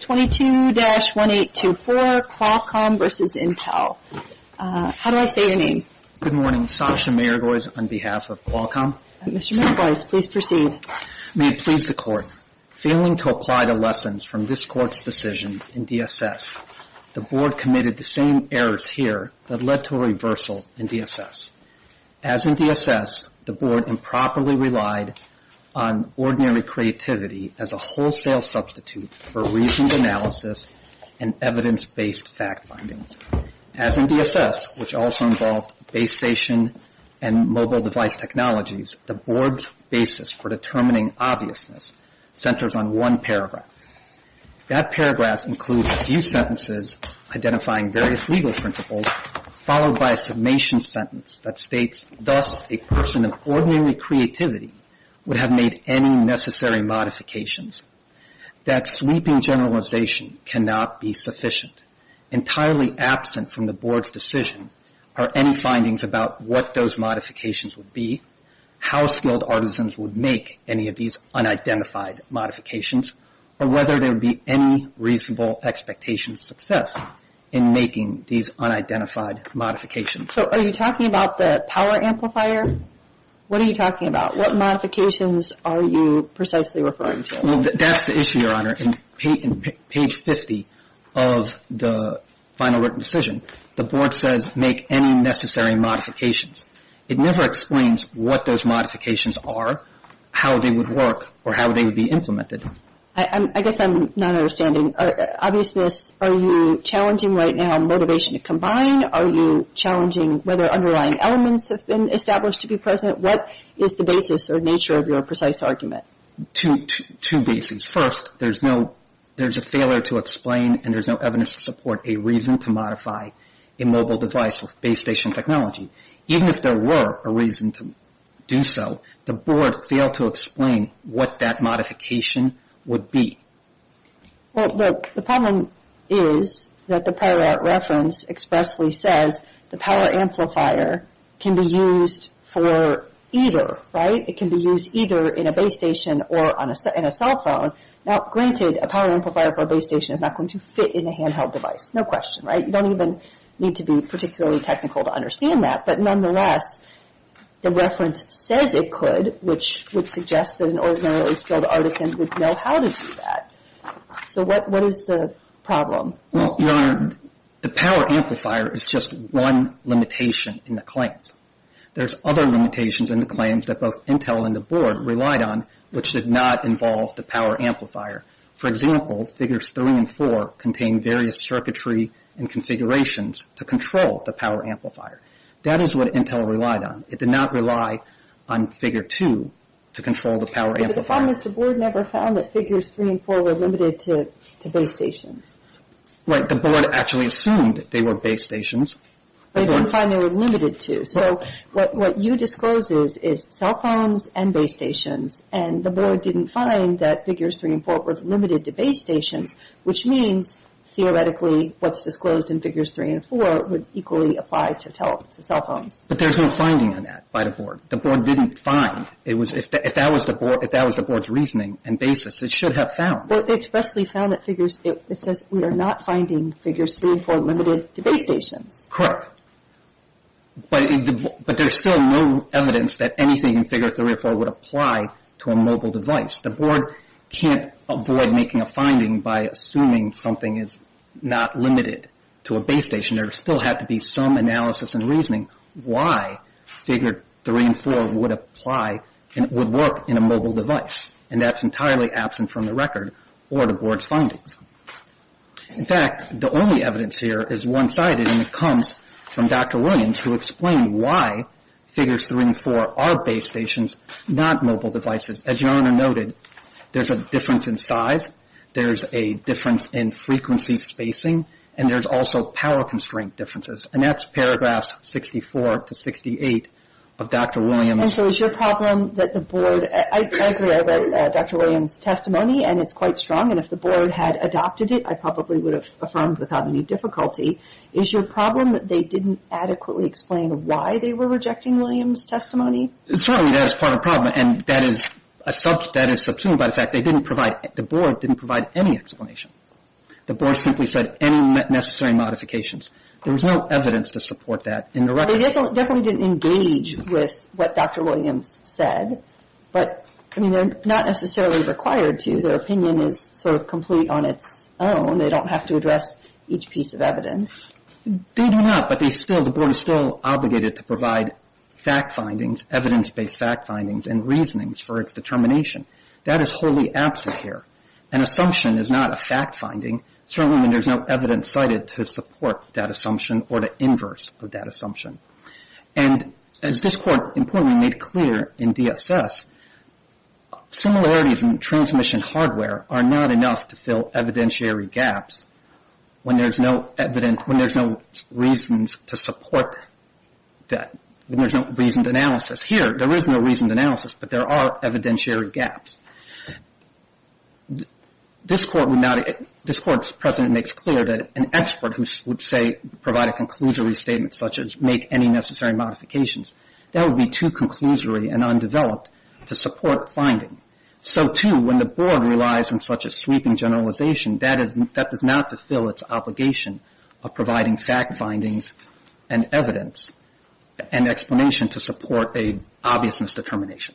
Page 622-1824 Qualcomm v. Intel How do I say your name? Good morning, Sasha Mergoys on behalf of Qualcomm Mr. Mergoys, please proceed May it please the Court, Failing to apply the lessons from this Court's decision in DSS, the Board committed the same errors here that led to a reversal in DSS. As in DSS, the Board improperly relied on ordinary creativity as a wholesale substitute for reasoned analysis and evidence-based fact findings. As in DSS, which also involved base station and mobile device technologies, the Board's basis for determining obviousness centers on one paragraph. That paragraph includes a few sentences identifying various legal principles followed by a summation sentence that states, Thus, a person of ordinary creativity would have made any necessary modifications. That sweeping generalization cannot be sufficient. Entirely absent from the Board's decision are any findings about what those modifications would be, how skilled artisans would make any of these unidentified modifications, or whether there would be any reasonable expectation of success in making these unidentified modifications. So are you talking about the power amplifier? What are you talking about? What modifications are you precisely referring to? Well, that's the issue, Your Honor. In page 50 of the final written decision, the Board says, Make any necessary modifications. It never explains what those modifications are, how they would work, or how they would be implemented. I guess I'm not understanding. Obviousness, are you challenging right now motivation to combine? Are you challenging whether underlying elements have been established to be present? What is the basis or nature of your precise argument? Two bases. First, there's a failure to explain and there's no evidence to support a reason to modify a mobile device with base station technology. Even if there were a reason to do so, the Board failed to explain what that modification would be. Well, the problem is that the prior reference expressly says the power amplifier can be used for either, right? It can be used either in a base station or in a cell phone. Now, granted, a power amplifier for a base station is not going to fit in a handheld device. No question, right? You don't even need to be particularly technical to understand that. But nonetheless, the reference says it could, which would suggest that an ordinarily skilled artisan would know how to do that. So what is the problem? Well, Your Honor, the power amplifier is just one limitation in the claims. There's other limitations in the claims that both Intel and the Board relied on, which did not involve the power amplifier. For example, Figures 3 and 4 contain various circuitry and configurations to control the power amplifier. That is what Intel relied on. It did not rely on Figure 2 to control the power amplifier. The problem is the Board never found that Figures 3 and 4 were limited to base stations. Right. The Board actually assumed they were base stations. They didn't find they were limited to. So what you disclosed is cell phones and base stations, and the Board didn't find that Figures 3 and 4 were limited to base stations, which means theoretically what's disclosed in Figures 3 and 4 would equally apply to cell phones. But there's no finding on that by the Board. The Board didn't find. If that was the Board's reasoning and basis, it should have found. It expressly found that it says we are not finding Figures 3 and 4 limited to base stations. Correct. But there's still no evidence that anything in Figure 3 or 4 would apply to a mobile device. The Board can't avoid making a finding by assuming something is not limited to a base station. There still had to be some analysis and reasoning why Figure 3 and 4 would apply and would work in a mobile device, and that's entirely absent from the record or the Board's findings. In fact, the only evidence here is one-sided, and it comes from Dr. Williams who explained why Figures 3 and 4 are base stations, not mobile devices. As Your Honor noted, there's a difference in size, there's a difference in frequency spacing, and there's also power constraint differences, and that's paragraphs 64 to 68 of Dr. Williams. And so is your problem that the Board – I agree, I read Dr. Williams' testimony, and it's quite strong, and if the Board had adopted it, I probably would have affirmed without any difficulty. Is your problem that they didn't adequately explain why they were rejecting Williams' testimony? Certainly, that is part of the problem, and that is subsumed by the fact they didn't provide – the Board didn't provide any explanation. The Board simply said any necessary modifications. There was no evidence to support that in the record. They definitely didn't engage with what Dr. Williams said, but I mean, they're not necessarily required to. Their opinion is sort of complete on its own. They don't have to address each piece of evidence. They do not, but they still – the Board is still obligated to provide fact findings, evidence-based fact findings and reasonings for its determination. That is wholly absent here. An assumption is not a fact finding, certainly when there's no evidence cited to support that assumption or the inverse of that assumption. And as this Court importantly made clear in DSS, similarities in transmission hardware are not enough to fill evidentiary gaps when there's no evidence – when there's no reasons to support that – when there's no reasoned analysis. Here, there is no reasoned analysis, but there are evidentiary gaps. This Court would not – this Court's precedent makes clear that an expert who would say – provide a conclusory statement such as make any necessary modifications, that would be too conclusory and undeveloped to support finding. So, too, when the Board relies on such a sweeping generalization, that does not fulfill its obligation of providing fact findings and evidence and explanation to support an obviousness determination.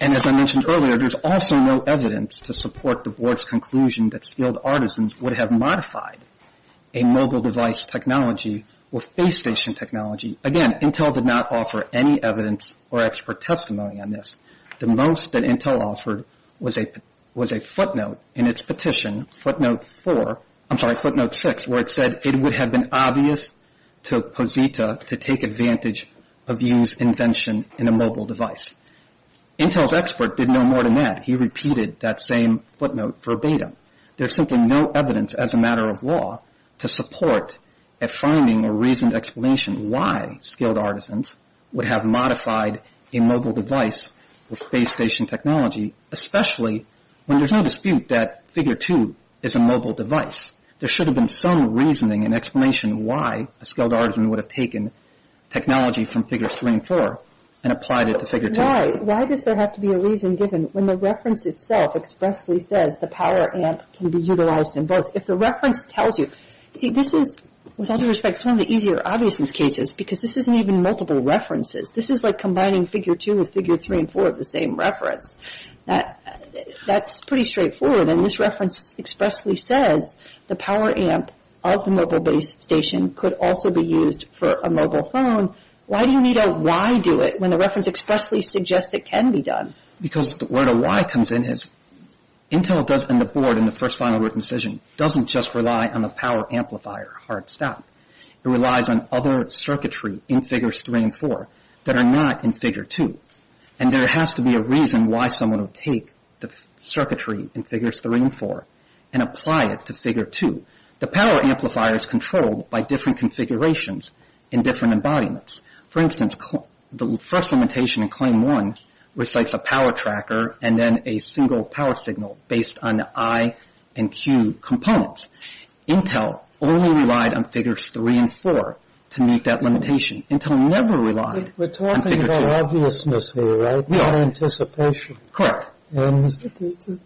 And as I mentioned earlier, there's also no evidence to support the Board's conclusion that skilled artisans would have modified a mobile device technology or face station technology. Again, Intel did not offer any evidence or expert testimony on this. The most that Intel offered was a footnote in its petition, footnote four – I'm sorry, footnote six, where it said it would have been obvious to Posita to take advantage of Yu's invention in a mobile device. Intel's expert did no more than that. He repeated that same footnote verbatim. There's simply no evidence as a matter of law to support a finding or reasoned explanation why skilled artisans would have modified a mobile device or face station technology, especially when there's no dispute that figure two is a mobile device. There should have been some reasoning and explanation why a skilled artisan would have taken technology from figure three and four and applied it to figure two. Why? Why does there have to be a reason given when the reference itself expressly says the power amp can be utilized in both? If the reference tells you – see, this is, with all due respect, some of the easier obviousness cases because this isn't even multiple references. This is like combining figure two with figure three and four of the same reference. That's pretty straightforward. And this reference expressly says the power amp of the mobile base station could also be used for a mobile phone. Why do you need a why do it when the reference expressly suggests it can be done? Because the word a why comes in as – Intel and the board in the first final written decision doesn't just rely on the power amplifier, hard stop. It relies on other circuitry in figures three and four that are not in figure two. And there has to be a reason why someone would take the circuitry in figures three and four and apply it to figure two. The power amplifier is controlled by different configurations in different embodiments. For instance, the first limitation in claim one recites a power tracker and then a single power signal based on the I and Q components. Intel only relied on figures three and four to meet that limitation. Intel never relied on figure two. And it's a little bit of a paradox for you, right? You have anticipation. And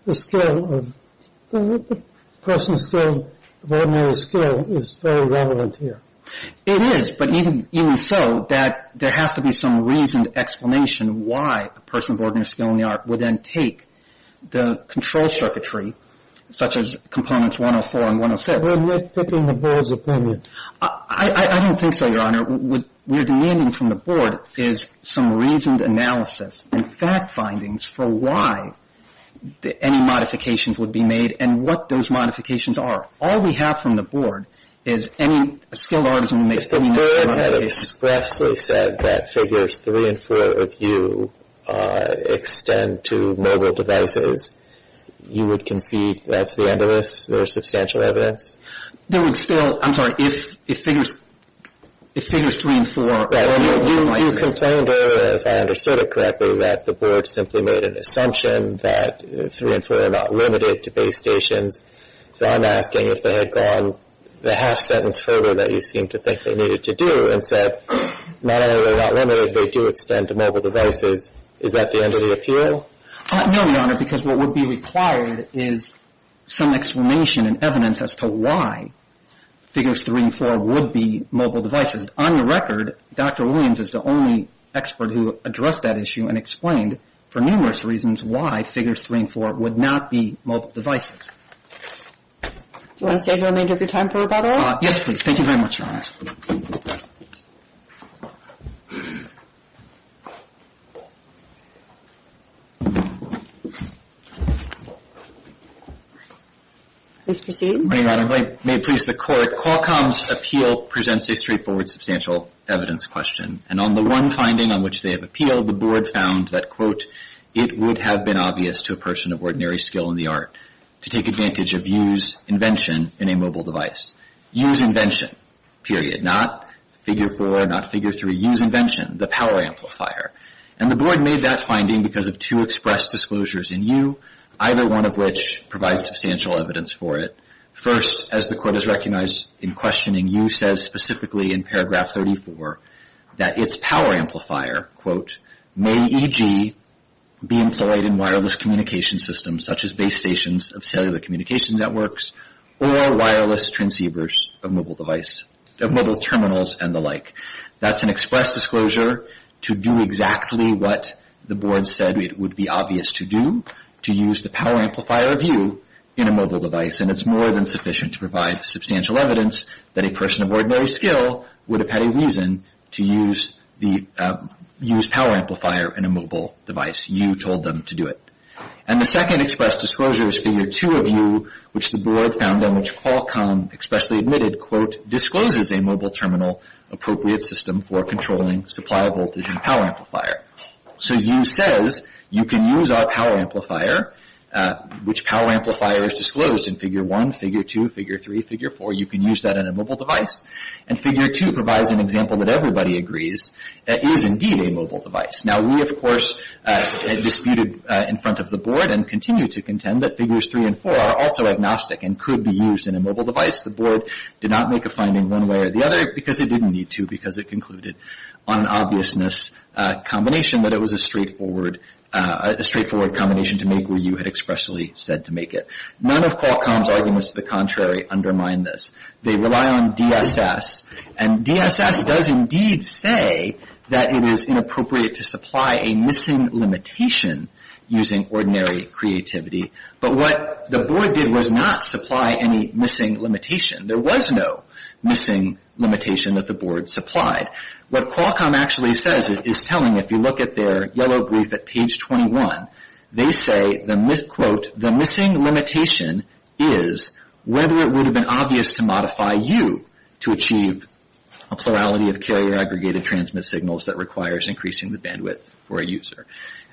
the scale of – the person's scale of ordinary scale is very relevant here. It is, but even so there has to be some reasoned explanation why a person of ordinary scale in the Art would then take the control circuitry such as components one and four and one and six. We're picking the board's opinion. I don't think so, Your Honor. What we're demanding from the board is some reasoned analysis and fact findings for why any modifications would be made and what those modifications are. All we have from the board is any skilled artisan who makes the meaningful modifications. If the board had expressly said that figures three and four of you extend to mobile devices, you would concede that's the end of this? There is substantial evidence? There would still – I'm sorry. If figures three and four – You complained earlier, if I understood it correctly, that the board simply made an assumption that three and four are not limited to base stations. So I'm asking if they had gone the half sentence further that you seem to think they needed to do and said not only are they not limited, they do extend to mobile devices. Is that the end of the appeal? No, Your Honor, because what would be required is some explanation and evidence as to why figures three and four would be mobile devices. On your record, Dr. Williams is the only expert who addressed that issue and explained for numerous reasons why figures three and four would not be mobile devices. Do you want to save the remainder of your time for rebuttal? Yes, please. Thank you very much, Your Honor. Please proceed. Good morning, Your Honor. May it please the Court, Qualcomm's appeal presents a straightforward substantial evidence question, and on the one finding on which they have appealed, the board found that, quote, it would have been obvious to a person of ordinary skill in the art to take advantage of used invention in a mobile device. Used invention, period. Not figure four, not figure three. Used invention, the power amplifier. And the board made that finding because of two express disclosures in you, either one of which provides substantial evidence for it. First, as the Court has recognized in questioning, you said specifically in paragraph 34 that its power amplifier, quote, may, e.g., be employed in wireless communication systems such as base stations of cellular communication networks or wireless transceivers of mobile device, of mobile terminals and the like. That's an express disclosure to do exactly what the board said it would be obvious to do, to use the power amplifier of you in a mobile device, and it's more than sufficient to provide substantial evidence that a person of ordinary skill would have had a reason to use power amplifier in a mobile device. You told them to do it. And the second express disclosure is figure two of you, which the board found and which Qualcomm expressly admitted, quote, discloses a mobile terminal appropriate system for controlling supply voltage and power amplifier. So you says you can use our power amplifier, which power amplifier is disclosed in figure one, figure two, figure three, figure four. You can use that in a mobile device. And figure two provides an example that everybody agrees is indeed a mobile device. Now we, of course, disputed in front of the board and continue to contend that figures three and four are also agnostic and could be used in a mobile device. The board did not make a finding one way or the other because it didn't need to because it concluded on an obviousness combination that it was a straightforward combination to make where you had expressly said to make it. None of Qualcomm's arguments to the contrary undermine this. They rely on DSS, and DSS does indeed say that it is inappropriate to supply a missing limitation using ordinary creativity. But what the board did was not supply any missing limitation. There was no missing limitation that the board supplied. What Qualcomm actually says is telling, if you look at their yellow brief at page 21, they say, quote, the missing limitation is whether it would have been obvious to modify U to achieve a plurality of carrier aggregated transmit signals that requires increasing the bandwidth for a user.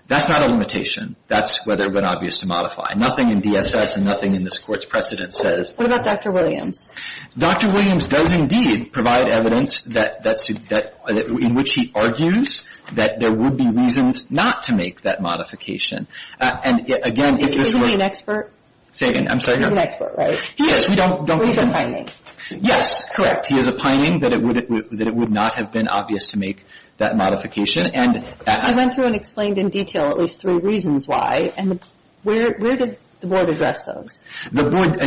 That's not a limitation. That's whether it would have been obvious to modify. Nothing in DSS and nothing in this court's precedent says. What about Dr. Williams? Dr. Williams does indeed provide evidence in which he argues that there would be reasons not to make that modification. And again, if this were... Is he an expert? Say again. I'm sorry. He's an expert, right? He is. He's a pining. Yes, correct. He is a pining that it would not have been obvious to make that modification. I went through and explained in detail at least three reasons why, and where did the board address those? The board,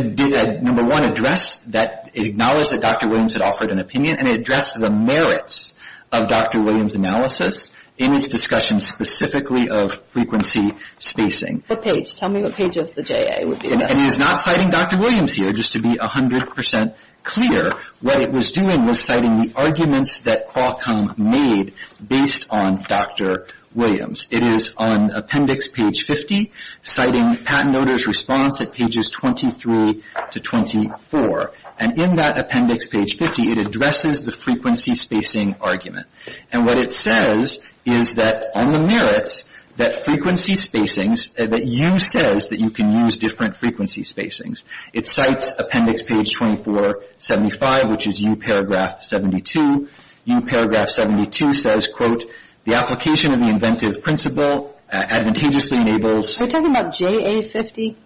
number one, addressed that it acknowledged that Dr. Williams had offered an opinion, and it addressed the merits of Dr. Williams' analysis in its discussion specifically of frequency spacing. What page? Tell me what page of the JA it would be. And it is not citing Dr. Williams here, just to be 100% clear. What it was doing was citing the arguments that Qualcomm made based on Dr. Williams. It is on appendix page 50, citing patent notice response at pages 23 to 24. And in that appendix, page 50, it addresses the frequency spacing argument. And what it says is that on the merits that frequency spacings, that U says that you can use different frequency spacings. It cites appendix page 2475, which is U paragraph 72. U paragraph 72 says, quote, the application of the inventive principle advantageously enables. Are we talking about JA 50?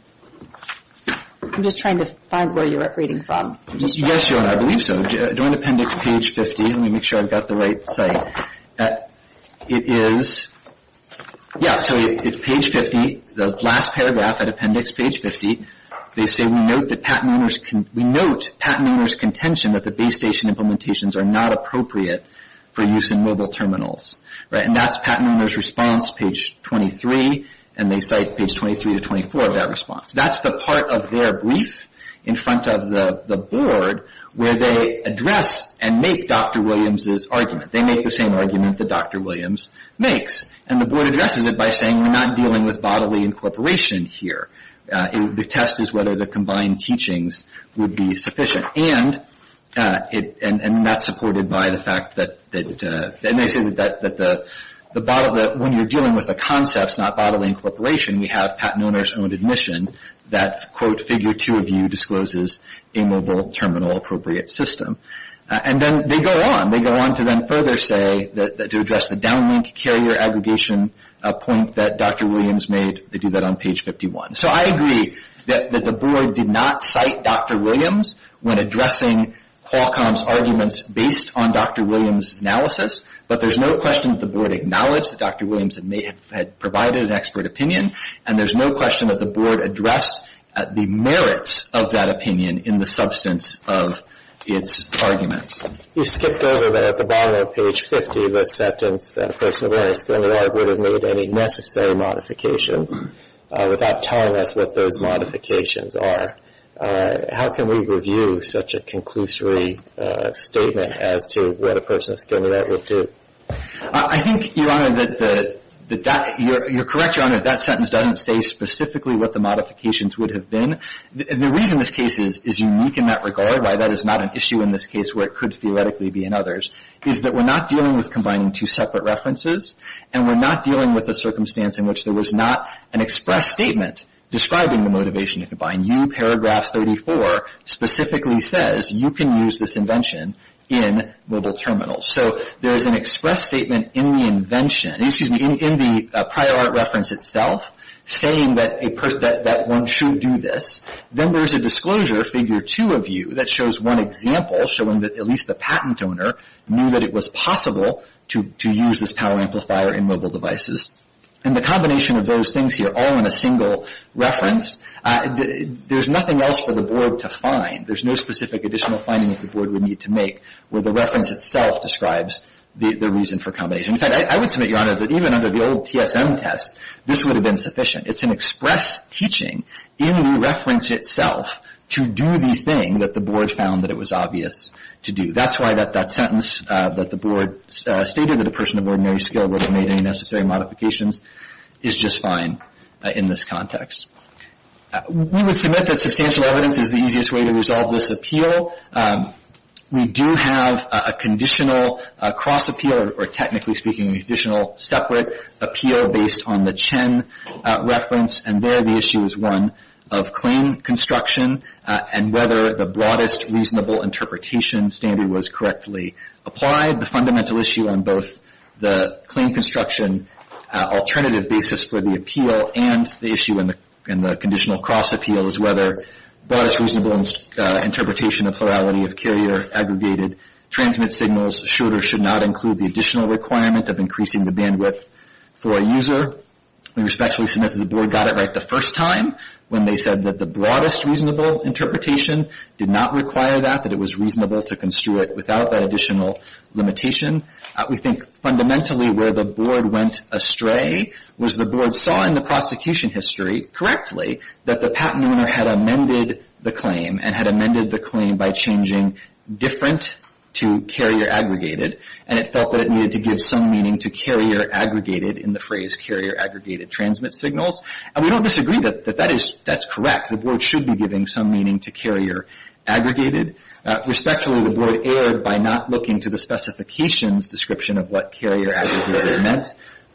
I'm just trying to find where you're reading from. Yes, Joan, I believe so. Join appendix page 50. Let me make sure I've got the right site. It is, yeah, so it's page 50. The last paragraph at appendix page 50, they say, we note patent owner's contention that the base station implementations are not appropriate for use in mobile terminals. And that's patent owner's response, page 23. And they cite page 23 to 24 of that response. That's the part of their brief in front of the board where they address and make Dr. Williams' argument. They make the same argument that Dr. Williams makes. And the board addresses it by saying we're not dealing with bodily incorporation here. The test is whether the combined teachings would be sufficient. And that's supported by the fact that when you're dealing with the concepts, not bodily incorporation, we have patent owner's own admission that, quote, figure two of U discloses a mobile terminal appropriate system. And then they go on. They go on to then further say that to address the downlink carrier aggregation point that Dr. Williams made, they do that on page 51. So I agree that the board did not cite Dr. Williams when addressing Qualcomm's arguments based on Dr. Williams' analysis. But there's no question that the board acknowledged that Dr. Williams had provided an expert opinion. And there's no question that the board addressed the merits of that opinion in the substance of its argument. You skipped over at the bottom of page 50 the sentence that a person of any skill or merit would have made any necessary modifications without telling us what those modifications are. How can we review such a conclusory statement as to what a person of skill or merit would do? I think, Your Honor, that that you're correct, Your Honor, that sentence doesn't say specifically what the modifications would have been. The reason this case is unique in that regard, why that is not an issue in this case where it could theoretically be in others, is that we're not dealing with combining two separate references and we're not dealing with a circumstance in which there was not an express statement describing the motivation to combine. You, paragraph 34, specifically says you can use this invention in mobile terminals. So there is an express statement in the invention, saying that one should do this. Then there's a disclosure, figure 2 of you, that shows one example showing that at least the patent owner knew that it was possible to use this power amplifier in mobile devices. And the combination of those things here, all in a single reference, there's nothing else for the board to find. There's no specific additional finding that the board would need to make where the reference itself describes the reason for combination. In fact, I would submit, Your Honor, that even under the old TSM test, this would have been sufficient. It's an express teaching in the reference itself to do the thing that the board found that it was obvious to do. That's why that sentence that the board stated that a person of ordinary skill would have made any necessary modifications is just fine in this context. We would submit that substantial evidence is the easiest way to resolve this appeal. We do have a conditional cross appeal, or technically speaking, a conditional separate appeal based on the Chen reference, and there the issue is one of claim construction and whether the broadest reasonable interpretation standard was correctly applied. The fundamental issue on both the claim construction alternative basis for the appeal and the issue in the conditional cross appeal is whether the broadest reasonable interpretation of plurality of carrier aggregated transmit signals should or should not include the additional requirement of increasing the bandwidth for a user. We respectfully submit that the board got it right the first time when they said that the broadest reasonable interpretation did not require that, that it was reasonable to construe it without that additional limitation. We think fundamentally where the board went astray was the board saw in the prosecution history, correctly, that the patent owner had amended the claim and had amended the claim by changing different to carrier aggregated and it felt that it needed to give some meaning to carrier aggregated in the phrase carrier aggregated transmit signals, and we don't disagree that that's correct. The board should be giving some meaning to carrier aggregated. Respectfully, the board erred by not looking to the specifications description of what carrier aggregated meant.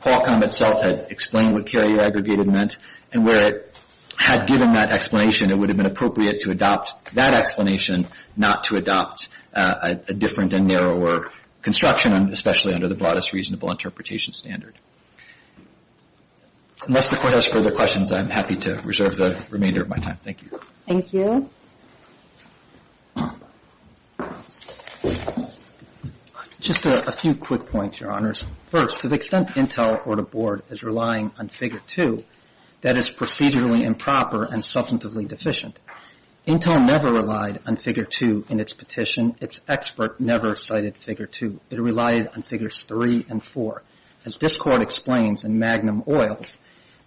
Qualcomm itself had explained what carrier aggregated meant and where it had given that explanation, it would have been appropriate to adopt that explanation not to adopt a different and narrower construction, especially under the broadest reasonable interpretation standard. Unless the court has further questions, I'm happy to reserve the remainder of my time. Thank you. Thank you. Just a few quick points, Your Honors. First, to the extent Intel or the board is relying on Figure 2, that is procedurally improper and substantively deficient. Intel never relied on Figure 2 in its petition. Its expert never cited Figure 2. It relied on Figures 3 and 4. As this court explains in Magnum Oils,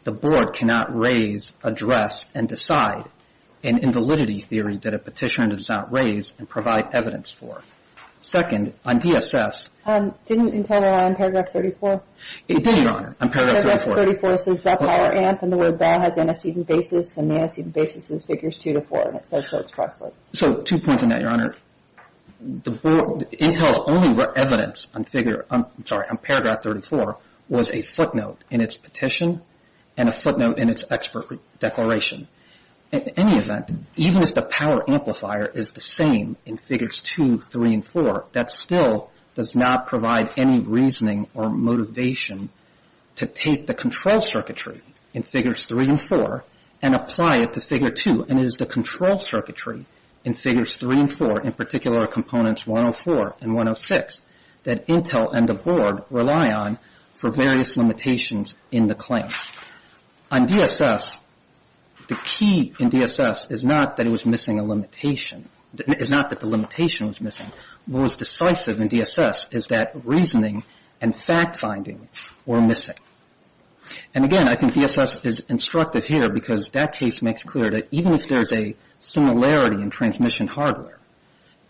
the board cannot raise, address, and decide an invalidity theory that a petitioner does not raise and provide evidence for. Second, on DSS. Didn't Intel rely on Paragraph 34? It did, Your Honor, on Paragraph 34. Paragraph 34 says that power amp and the word ball has antecedent basis and the antecedent basis is Figures 2 to 4 and it says so expressly. So two points on that, Your Honor. Intel's only evidence on Figure, I'm sorry, on Paragraph 34 was a footnote in its petition and a footnote in its expert declaration. In any event, even if the power amplifier is the same in Figures 2, 3, and 4, that still does not provide any reasoning or motivation to take the control circuitry in Figures 3 and 4 and apply it to Figure 2 and it is the control circuitry in Figures 3 and 4, in particular Components 104 and 106, that Intel and the board rely on for various limitations in the claims. On DSS, the key in DSS is not that it was missing a limitation. It's not that the limitation was missing. What was decisive in DSS is that reasoning and fact-finding were missing. And again, I think DSS is instructive here because that case makes clear that even if there's a similarity in transmission hardware,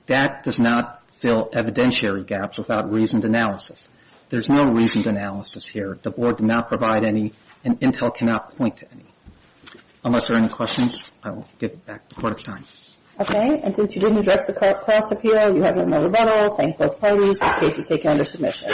that does not fill evidentiary gaps without reasoned analysis. There's no reasoned analysis here. The board did not provide any and Intel cannot point to any. Unless there are any questions, I will give it back to the Court of Time. Okay, and since you didn't address the cost appeal, you have no rebuttal. Thank both parties. This case is taken under submission.